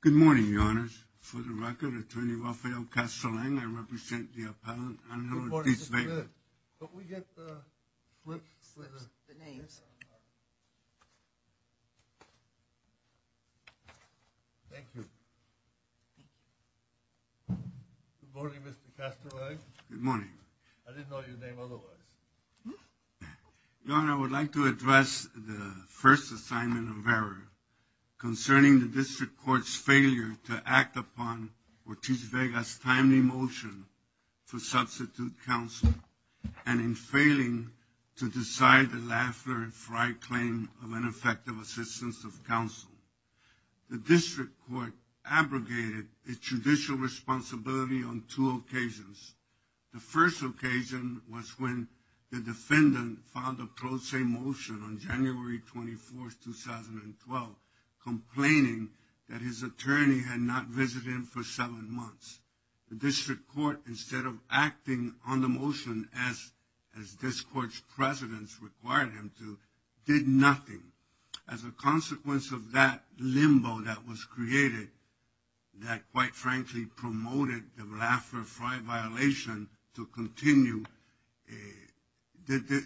Good morning, Your Honors. For the record, Attorney Raphael Kastelang, I represent the Thank you. Good morning, Mr. Kastelang. Good morning. I didn't know your name otherwise. Your Honor, I would like to address the first assignment of error concerning the District Court's failure to act upon Ortiz-Vega's timely motion for substitute counsel and in failing to decide the Lafler and Frye claim of ineffective assistance of counsel. The District Court abrogated its judicial responsibility on two occasions. The first occasion was when the defendant filed a pro se motion on January 24, 2012, complaining that his attorney had not visited him for seven months. The District Court, instead of acting on the motion as this Court's precedence required him to, did nothing. As a consequence of that limbo that was created, that quite frankly promoted the Lafler-Frye violation to continue, the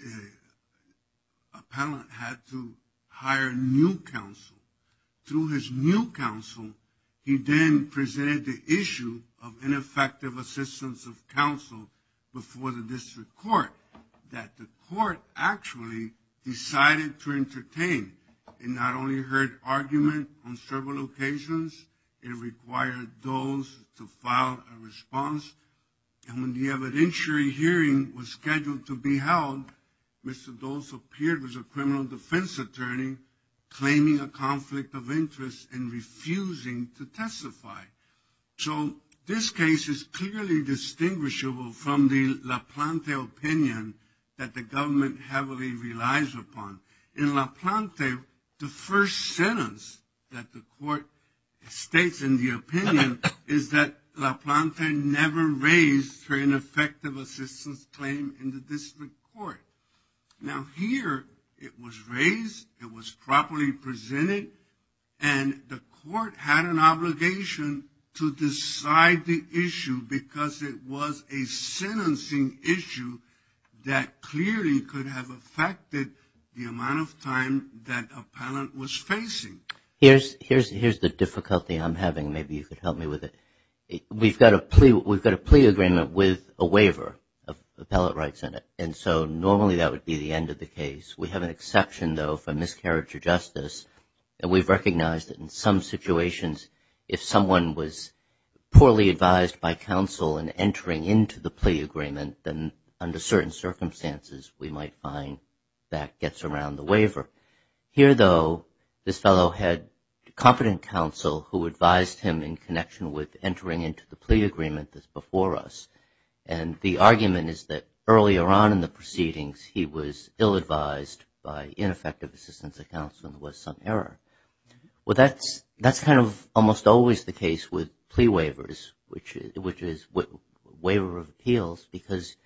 appellant had to hire new counsel. Through his new counsel, he then presented the issue of ineffective assistance of counsel before the District Court, that the Court actually decided to entertain. It not only heard argument on several occasions, it required those to file a response. And when the evidentiary hearing was scheduled to be held, Mr. Dole appeared as a criminal defense attorney, claiming a conflict of interest and refusing to testify. So this case is clearly distinguishable from the Laplante opinion that the government heavily relies upon. In Laplante, the first sentence that the Court states in the opinion is that Laplante never raised for ineffective assistance claim in the District Court. Now here, it was raised, it was properly presented, and the Court had an obligation to decide the issue because it was a sentencing issue that clearly could have affected the amount of time that appellant was facing. Here's the difficulty I'm having. Maybe you could help me with it. We've got a plea agreement with a waiver of appellate rights in it. And so normally that would be the end of the case. We have an exception, though, for miscarriage of justice. And we've recognized that in some situations, if someone was poorly advised by counsel in entering into the plea agreement, then under certain circumstances, we might find that gets around the waiver. Here, though, this fellow had competent counsel who advised him in connection with entering into the plea agreement that's before us. And the argument is that earlier on in the proceedings, he was ill-advised by ineffective assistance of counsel and was some error. Well, that's kind of almost always the case with plea waivers, which is waiver of appeals, because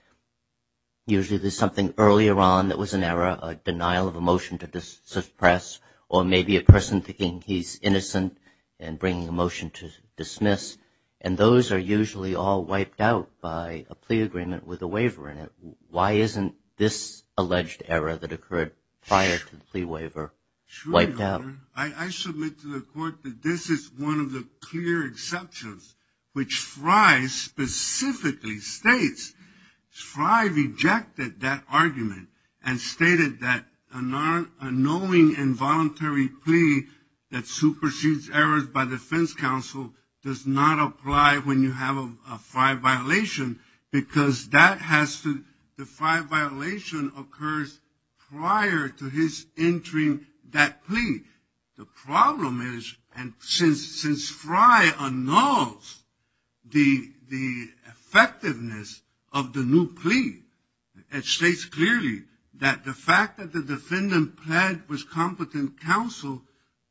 usually there's something earlier on that was an error, a denial of a motion to suppress, or maybe a person thinking he's innocent and bringing a motion to dismiss. And those are usually all wiped out by a plea agreement with a waiver in it. Why isn't this alleged error that occurred prior to the plea waiver wiped out? I submit to the court that this is one of the clear exceptions, which Fry specifically states. Fry rejected that argument and stated that a knowing involuntary plea that supersedes errors by defense counsel does not apply when you have a Fry violation, because the Fry violation occurs prior to his entering that plea. The problem is, and since Fry annuls the effectiveness of the new plea, it states clearly that the fact that the defendant pled with competent counsel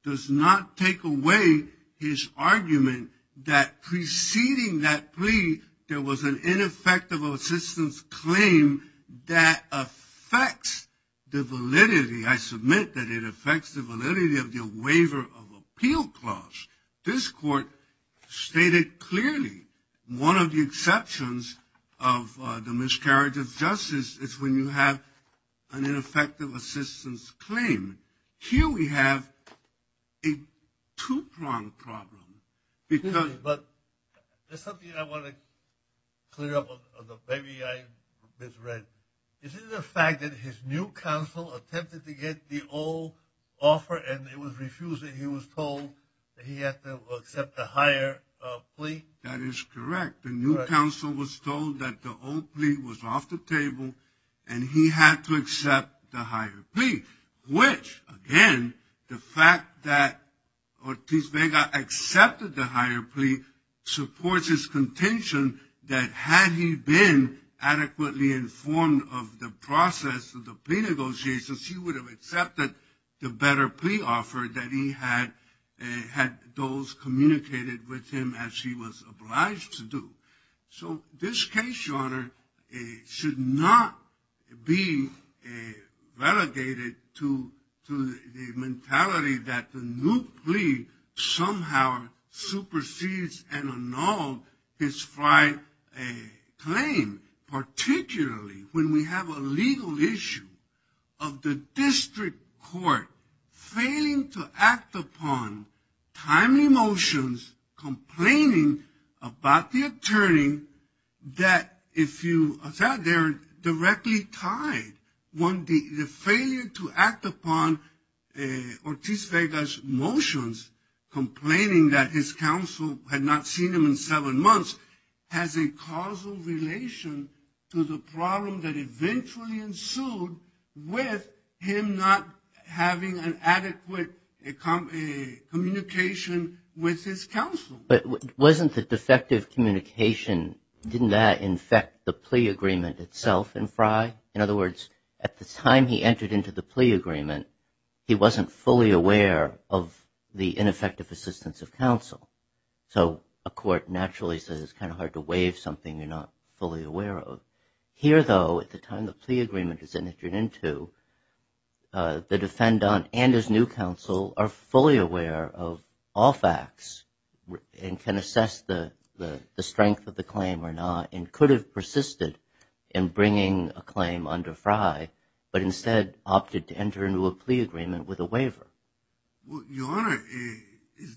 does not take away his argument that preceding that plea, there was an ineffective assistance claim that affects the validity. I submit that it affects the validity of the waiver of appeal clause. This court stated clearly one of the exceptions of the miscarriage of justice is when you have an ineffective assistance claim. Here we have a two-pronged problem. But there's something I want to clear up, maybe I misread. Is it the fact that his new counsel attempted to get the old offer and it was refused and he was told that he had to accept the higher plea? That is correct. The new counsel was told that the old plea was off the table and he had to accept the higher plea, which, again, the fact that Ortiz Vega accepted the higher plea supports his contention that had he been adequately informed of the process of the plea negotiations, he would have accepted the better plea offer that he had those communicated with him as he was obliged to do. So this case, Your Honor, should not be relegated to the mentality that the new plea somehow supersedes and annulled his prior claim, particularly when we have a legal issue of the district court failing to act upon timely motions, complaining about the attorney that, as I said, they're directly tied. One, the failure to act upon Ortiz Vega's motions, complaining that his counsel had not seen him in seven months has a causal relation to the problem that eventually ensued with him not having an adequate communication with his counsel. But wasn't the defective communication, didn't that infect the plea agreement itself in Frye? In other words, at the time he entered into the plea agreement, he wasn't fully aware of the ineffective assistance of counsel. So a court naturally says it's kind of hard to waive something you're not fully aware of. Here, though, at the time the plea agreement is entered into, the defendant and his new counsel are fully aware of all facts and can assess the strength of the claim or not and could have persisted in bringing a claim under Frye, but instead opted to enter into a plea agreement with a waiver. Your Honor,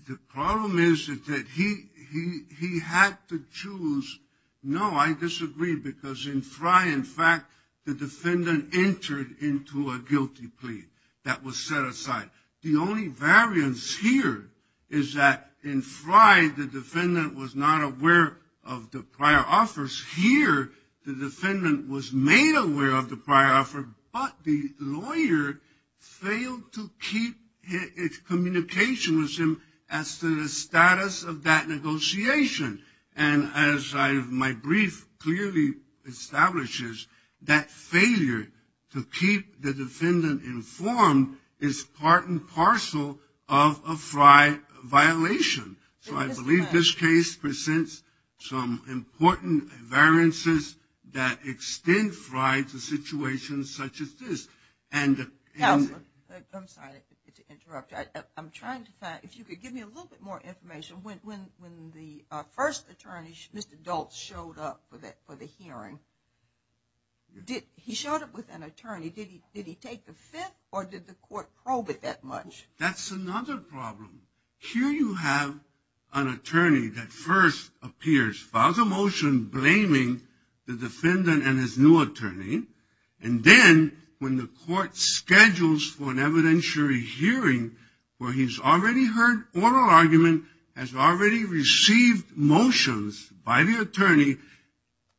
the problem is that he had to choose. No, I disagree, because in Frye, in fact, the defendant entered into a guilty plea that was set aside. The only variance here is that in Frye, the defendant was not aware of the prior offers. Here, the defendant was made aware of the prior offer, but the lawyer failed to keep his communication with him as to the status of that negotiation. And as my brief clearly establishes, that failure to keep the defendant informed is part and parcel of a Frye violation. So I believe this case presents some important variances that extend Frye to situations such as this. I'm sorry to interrupt. I'm trying to find, if you could give me a little bit more information. When the first attorney, Mr. Daltz, showed up for the hearing, he showed up with an attorney. Did he take the fifth, or did the court probe it that much? That's another problem. Here you have an attorney that first appears, files a motion blaming the defendant and his new attorney. And then when the court schedules for an evidentiary hearing where he's already heard oral argument, has already received motions by the attorney,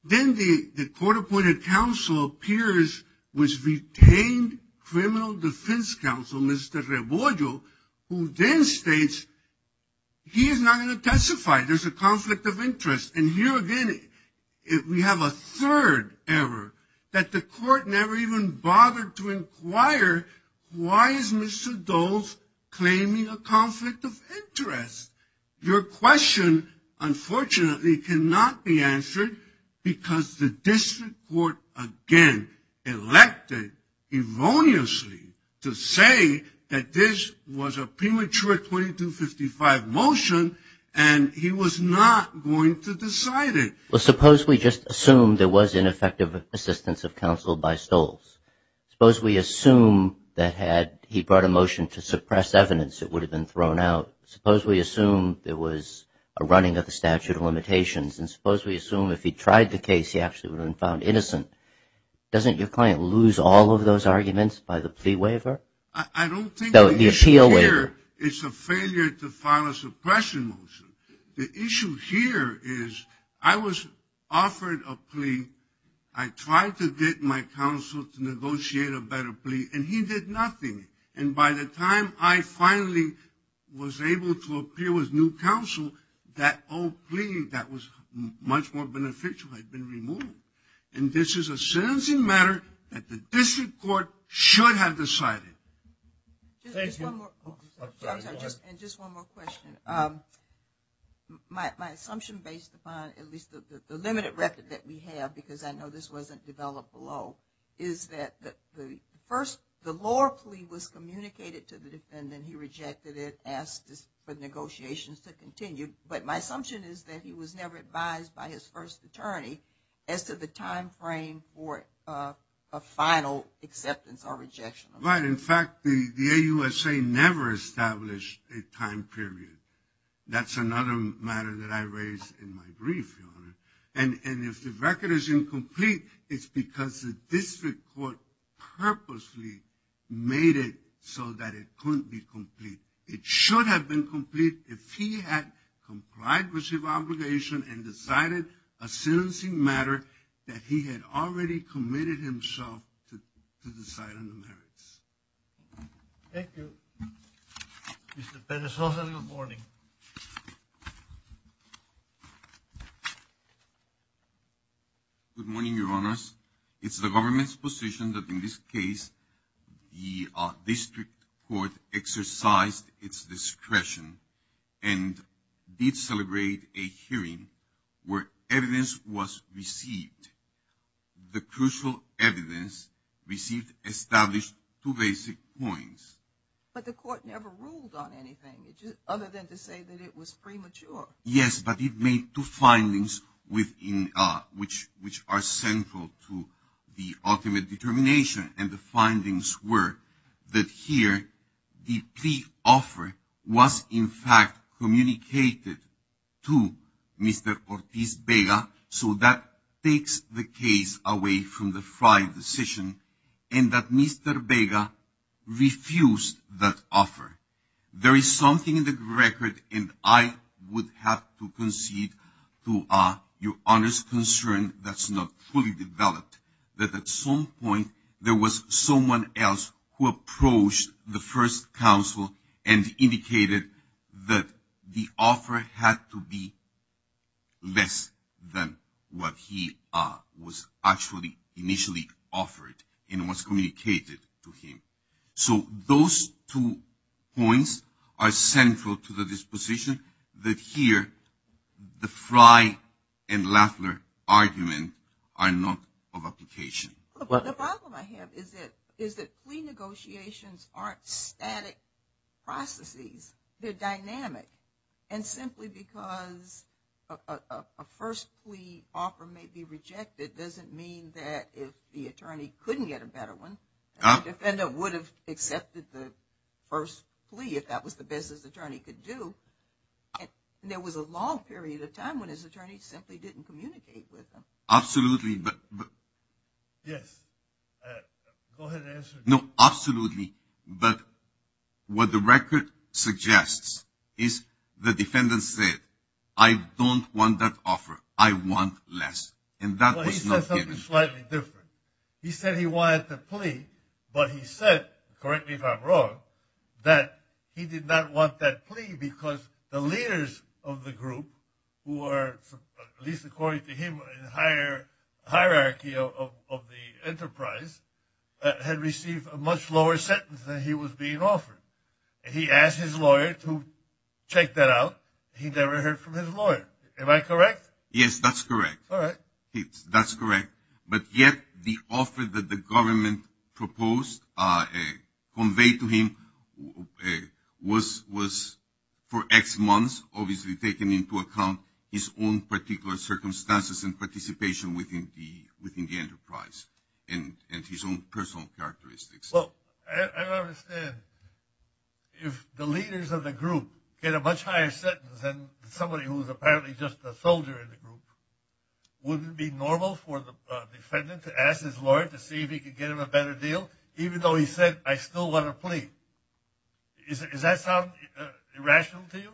then the court-appointed counsel appears with retained criminal defense counsel, Mr. Rebollo, who then states he is not going to testify. There's a conflict of interest. And here again we have a third error, that the court never even bothered to inquire, why is Mr. Daltz claiming a conflict of interest? Your question, unfortunately, cannot be answered because the district court, again, elected erroneously to say that this was a premature 2255 motion and he was not going to decide it. Well, suppose we just assume there was ineffective assistance of counsel by Stoltz. Suppose we assume that had he brought a motion to suppress evidence, it would have been thrown out. Suppose we assume there was a running of the statute of limitations. And suppose we assume if he tried the case, he actually would have been found innocent. Doesn't your client lose all of those arguments by the plea waiver? I don't think the issue here is a failure to file a suppression motion. The issue here is I was offered a plea. I tried to get my counsel to negotiate a better plea, and he did nothing. And by the time I finally was able to appear with new counsel, that old plea that was much more beneficial had been removed. And this is a sentencing matter that the district court should have decided. Just one more question. My assumption based upon at least the limited record that we have, because I know this wasn't developed below, is that the first, the lower plea was communicated to the defendant. He rejected it, asked for negotiations to continue. But my assumption is that he was never advised by his first attorney as to the time frame for a final acceptance or rejection. Right. In fact, the AUSA never established a time period. That's another matter that I raised in my brief, Your Honor. And if the record is incomplete, it's because the district court purposely made it so that it couldn't be complete. It should have been complete if he had complied with his obligation and decided a sentencing matter that he had already committed himself to decide on the merits. Thank you. Mr. Pena-Sosa, good morning. Good morning, Your Honors. It's the government's position that in this case the district court exercised its discretion and did celebrate a hearing where evidence was received. The crucial evidence received established two basic points. But the court never ruled on anything other than to say that it was premature. Yes, but it made two findings which are central to the ultimate determination. And the findings were that here the plea offer was in fact communicated to Mr. Ortiz Vega. So that takes the case away from the Frey decision and that Mr. Vega refused that offer. There is something in the record and I would have to concede to Your Honor's concern that's not fully developed. That at some point there was someone else who approached the first counsel and indicated that the offer had to be less than what he was actually initially offered and was communicated to him. So those two points are central to the disposition that here the Frey and Lafler argument are not of application. The problem I have is that plea negotiations aren't static processes. They're dynamic. And simply because a first plea offer may be rejected doesn't mean that if the attorney couldn't get a better one, the defendant would have accepted the first plea if that was the best his attorney could do. There was a long period of time when his attorney simply didn't communicate with him. Absolutely. Yes, go ahead and answer. No, absolutely. But what the record suggests is the defendant said, I don't want that offer. I want less. And that was not given. He said something slightly different. He said he wanted the plea, but he said, correct me if I'm wrong, that he did not want that plea because the leaders of the group, who are at least according to him in higher hierarchy of the enterprise, had received a much lower sentence than he was being offered. He asked his lawyer to check that out. He never heard from his lawyer. Am I correct? Yes, that's correct. All right. That's correct. But yet the offer that the government proposed conveyed to him was for X months, obviously taking into account his own particular circumstances and participation within the enterprise and his own personal characteristics. Well, I don't understand. If the leaders of the group get a much higher sentence than somebody who is apparently just a soldier in the group, wouldn't it be normal for the defendant to ask his lawyer to see if he could get him a better deal, even though he said, I still want a plea? Does that sound irrational to you?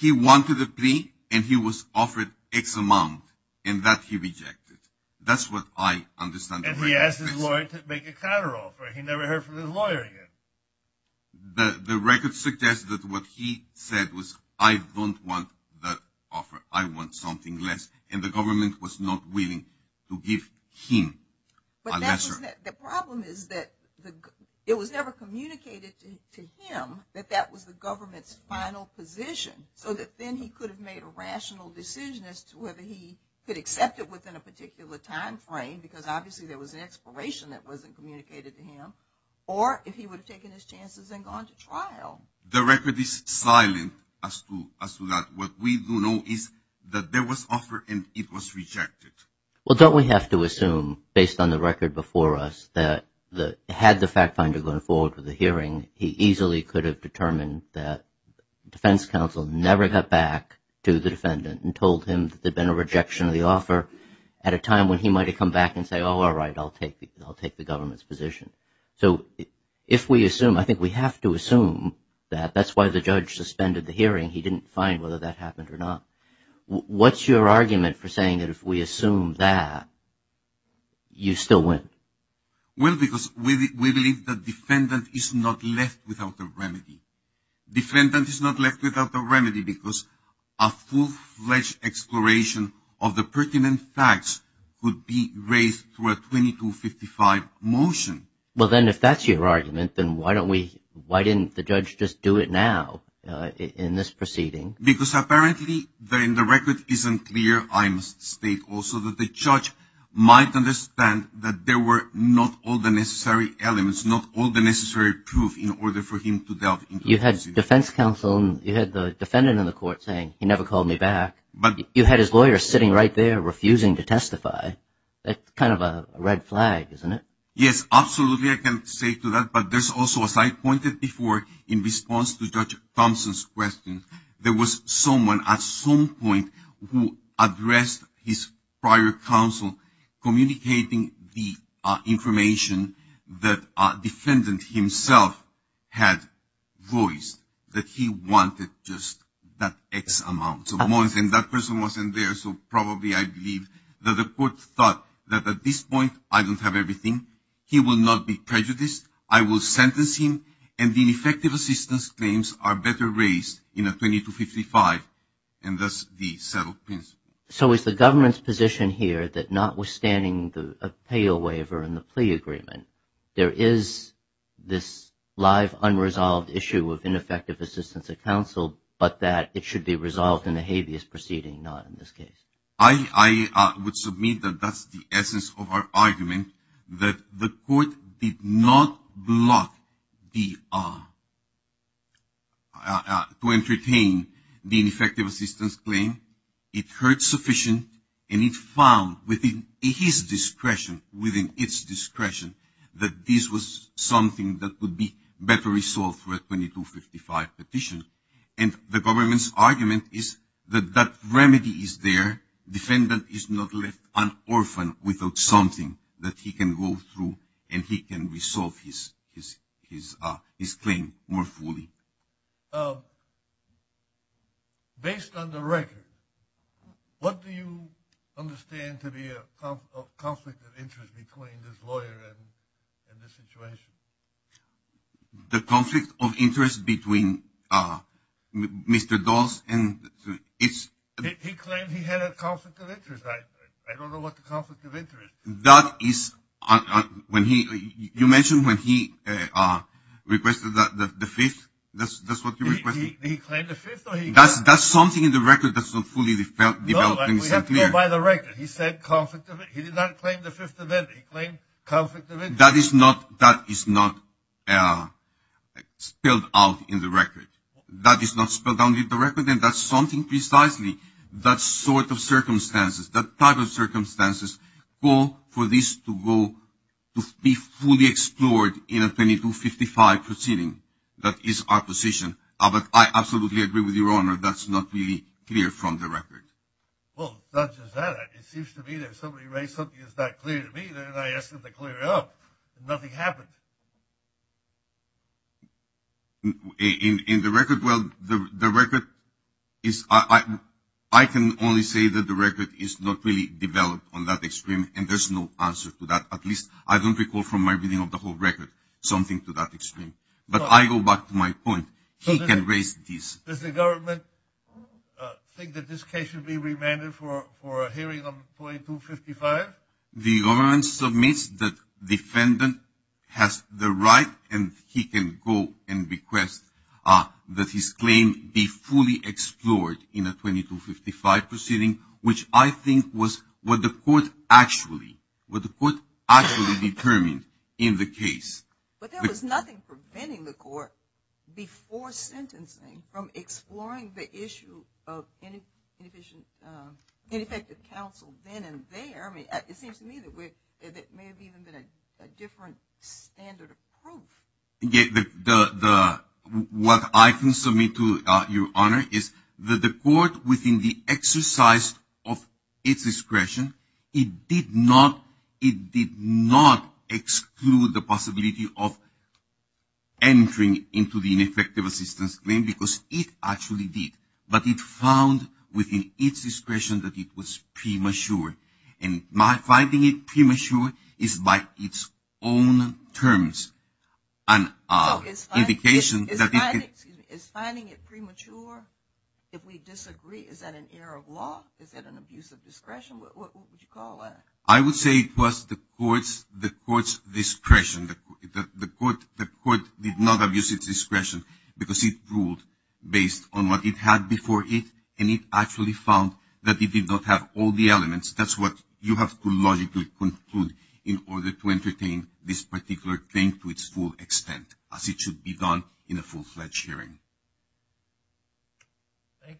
He wanted a plea, and he was offered X amount, and that he rejected. That's what I understand. And he asked his lawyer to make a counteroffer. He never heard from his lawyer again. The record suggests that what he said was, I don't want that offer. I want something less, and the government was not willing to give him a lesser. The problem is that it was never communicated to him that that was the government's final position, so that then he could have made a rational decision as to whether he could accept it within a particular timeframe, because obviously there was an expiration that wasn't communicated to him, or if he would have taken his chances and gone to trial. The record is silent as to that. What we do know is that there was offer, and it was rejected. Well, don't we have to assume, based on the record before us, that had the fact finder gone forward with the hearing, he easily could have determined that defense counsel never got back to the defendant and told him that there had been a rejection of the offer at a time when he might have come back and said, oh, all right, I'll take the government's position. So if we assume, I think we have to assume that that's why the judge suspended the hearing. He didn't find whether that happened or not. What's your argument for saying that if we assume that, you still win? Well, because we believe that defendant is not left without a remedy. Defendant is not left without a remedy because a full-fledged exploration of the pertinent facts would be raised through a 2255 motion. Well, then if that's your argument, then why didn't the judge just do it now in this proceeding? Because apparently, then the record isn't clear. I must state also that the judge might understand that there were not all the necessary elements, not all the necessary proof in order for him to delve into the proceeding. You had defense counsel and you had the defendant in the court saying, he never called me back. You had his lawyer sitting right there refusing to testify. That's kind of a red flag, isn't it? Yes, absolutely, I can say to that. But there's also, as I pointed before, in response to Judge Thompson's question, there was someone at some point who addressed his prior counsel communicating the information that defendant himself had voiced, that he wanted just that X amount of money, and that person wasn't there. So probably I believe that the court thought that at this point, I don't have everything. He will not be prejudiced. I will sentence him, and the ineffective assistance claims are better raised in a 2255, and thus the settled principle. So is the government's position here that notwithstanding the appeal waiver and the plea agreement, there is this live unresolved issue of ineffective assistance of counsel, but that it should be resolved in the habeas proceeding, not in this case? I would submit that that's the essence of our argument, that the court did not block the, to entertain the ineffective assistance claim. It heard sufficient, and it found within his discretion, within its discretion, that this was something that would be better resolved through a 2255 petition. And the government's argument is that that remedy is there. Defendant is not left un-orphaned without something that he can go through, and he can resolve his claim more fully. Based on the record, what do you understand to be a conflict of interest between this lawyer and this situation? The conflict of interest between Mr. Dawes and it's... He claimed he had a conflict of interest. I don't know what the conflict of interest is. That is, when he, you mentioned when he requested the fifth, that's what you requested? He claimed the fifth, or he... That's something in the record that's not fully developed and set clear. No, we have to go by the record. He said conflict of, he did not claim the fifth amendment. He claimed conflict of interest. That is not, that is not spelled out in the record. That is not spelled out in the record, and that's something precisely, that sort of circumstances, that type of circumstances call for this to go, to be fully explored in a 2255 proceeding. That is our position. But I absolutely agree with Your Honor, that's not really clear from the record. Well, not just that, it seems to me that if somebody raised something that's not clear to me, then I asked them to clear it up, and nothing happened. In the record, well, the record is, I can only say that the record is not really developed on that extreme, and there's no answer to that. At least, I don't recall from my reading of the whole record, something to that extreme. But I go back to my point. He can raise this. Does the government think that this case should be remanded for a hearing on 2255? The government submits that defendant has the right, and he can go and request that his claim be fully explored in a 2255 proceeding, which I think was what the court actually, what the court actually determined in the case. But there was nothing preventing the court before sentencing from exploring the issue of ineffective counsel then and there. I mean, it seems to me that it may have even been a different standard of proof. What I can submit to Your Honor is that the court within the exercise of its discretion, it did not exclude the possibility of entering into the ineffective assistance claim, because it actually did. But it found within its discretion that it was premature. And my finding it premature is by its own terms an indication that it could. Is finding it premature, if we disagree, is that an error of law? Is that an abuse of discretion? What would you call that? I would say it was the court's discretion. The court did not abuse its discretion, because it ruled based on what it had before it, and it actually found that it did not have all the elements. That's what you have to logically conclude in order to entertain this particular claim to its full extent, as it should be done in a full-fledged hearing. Thank you.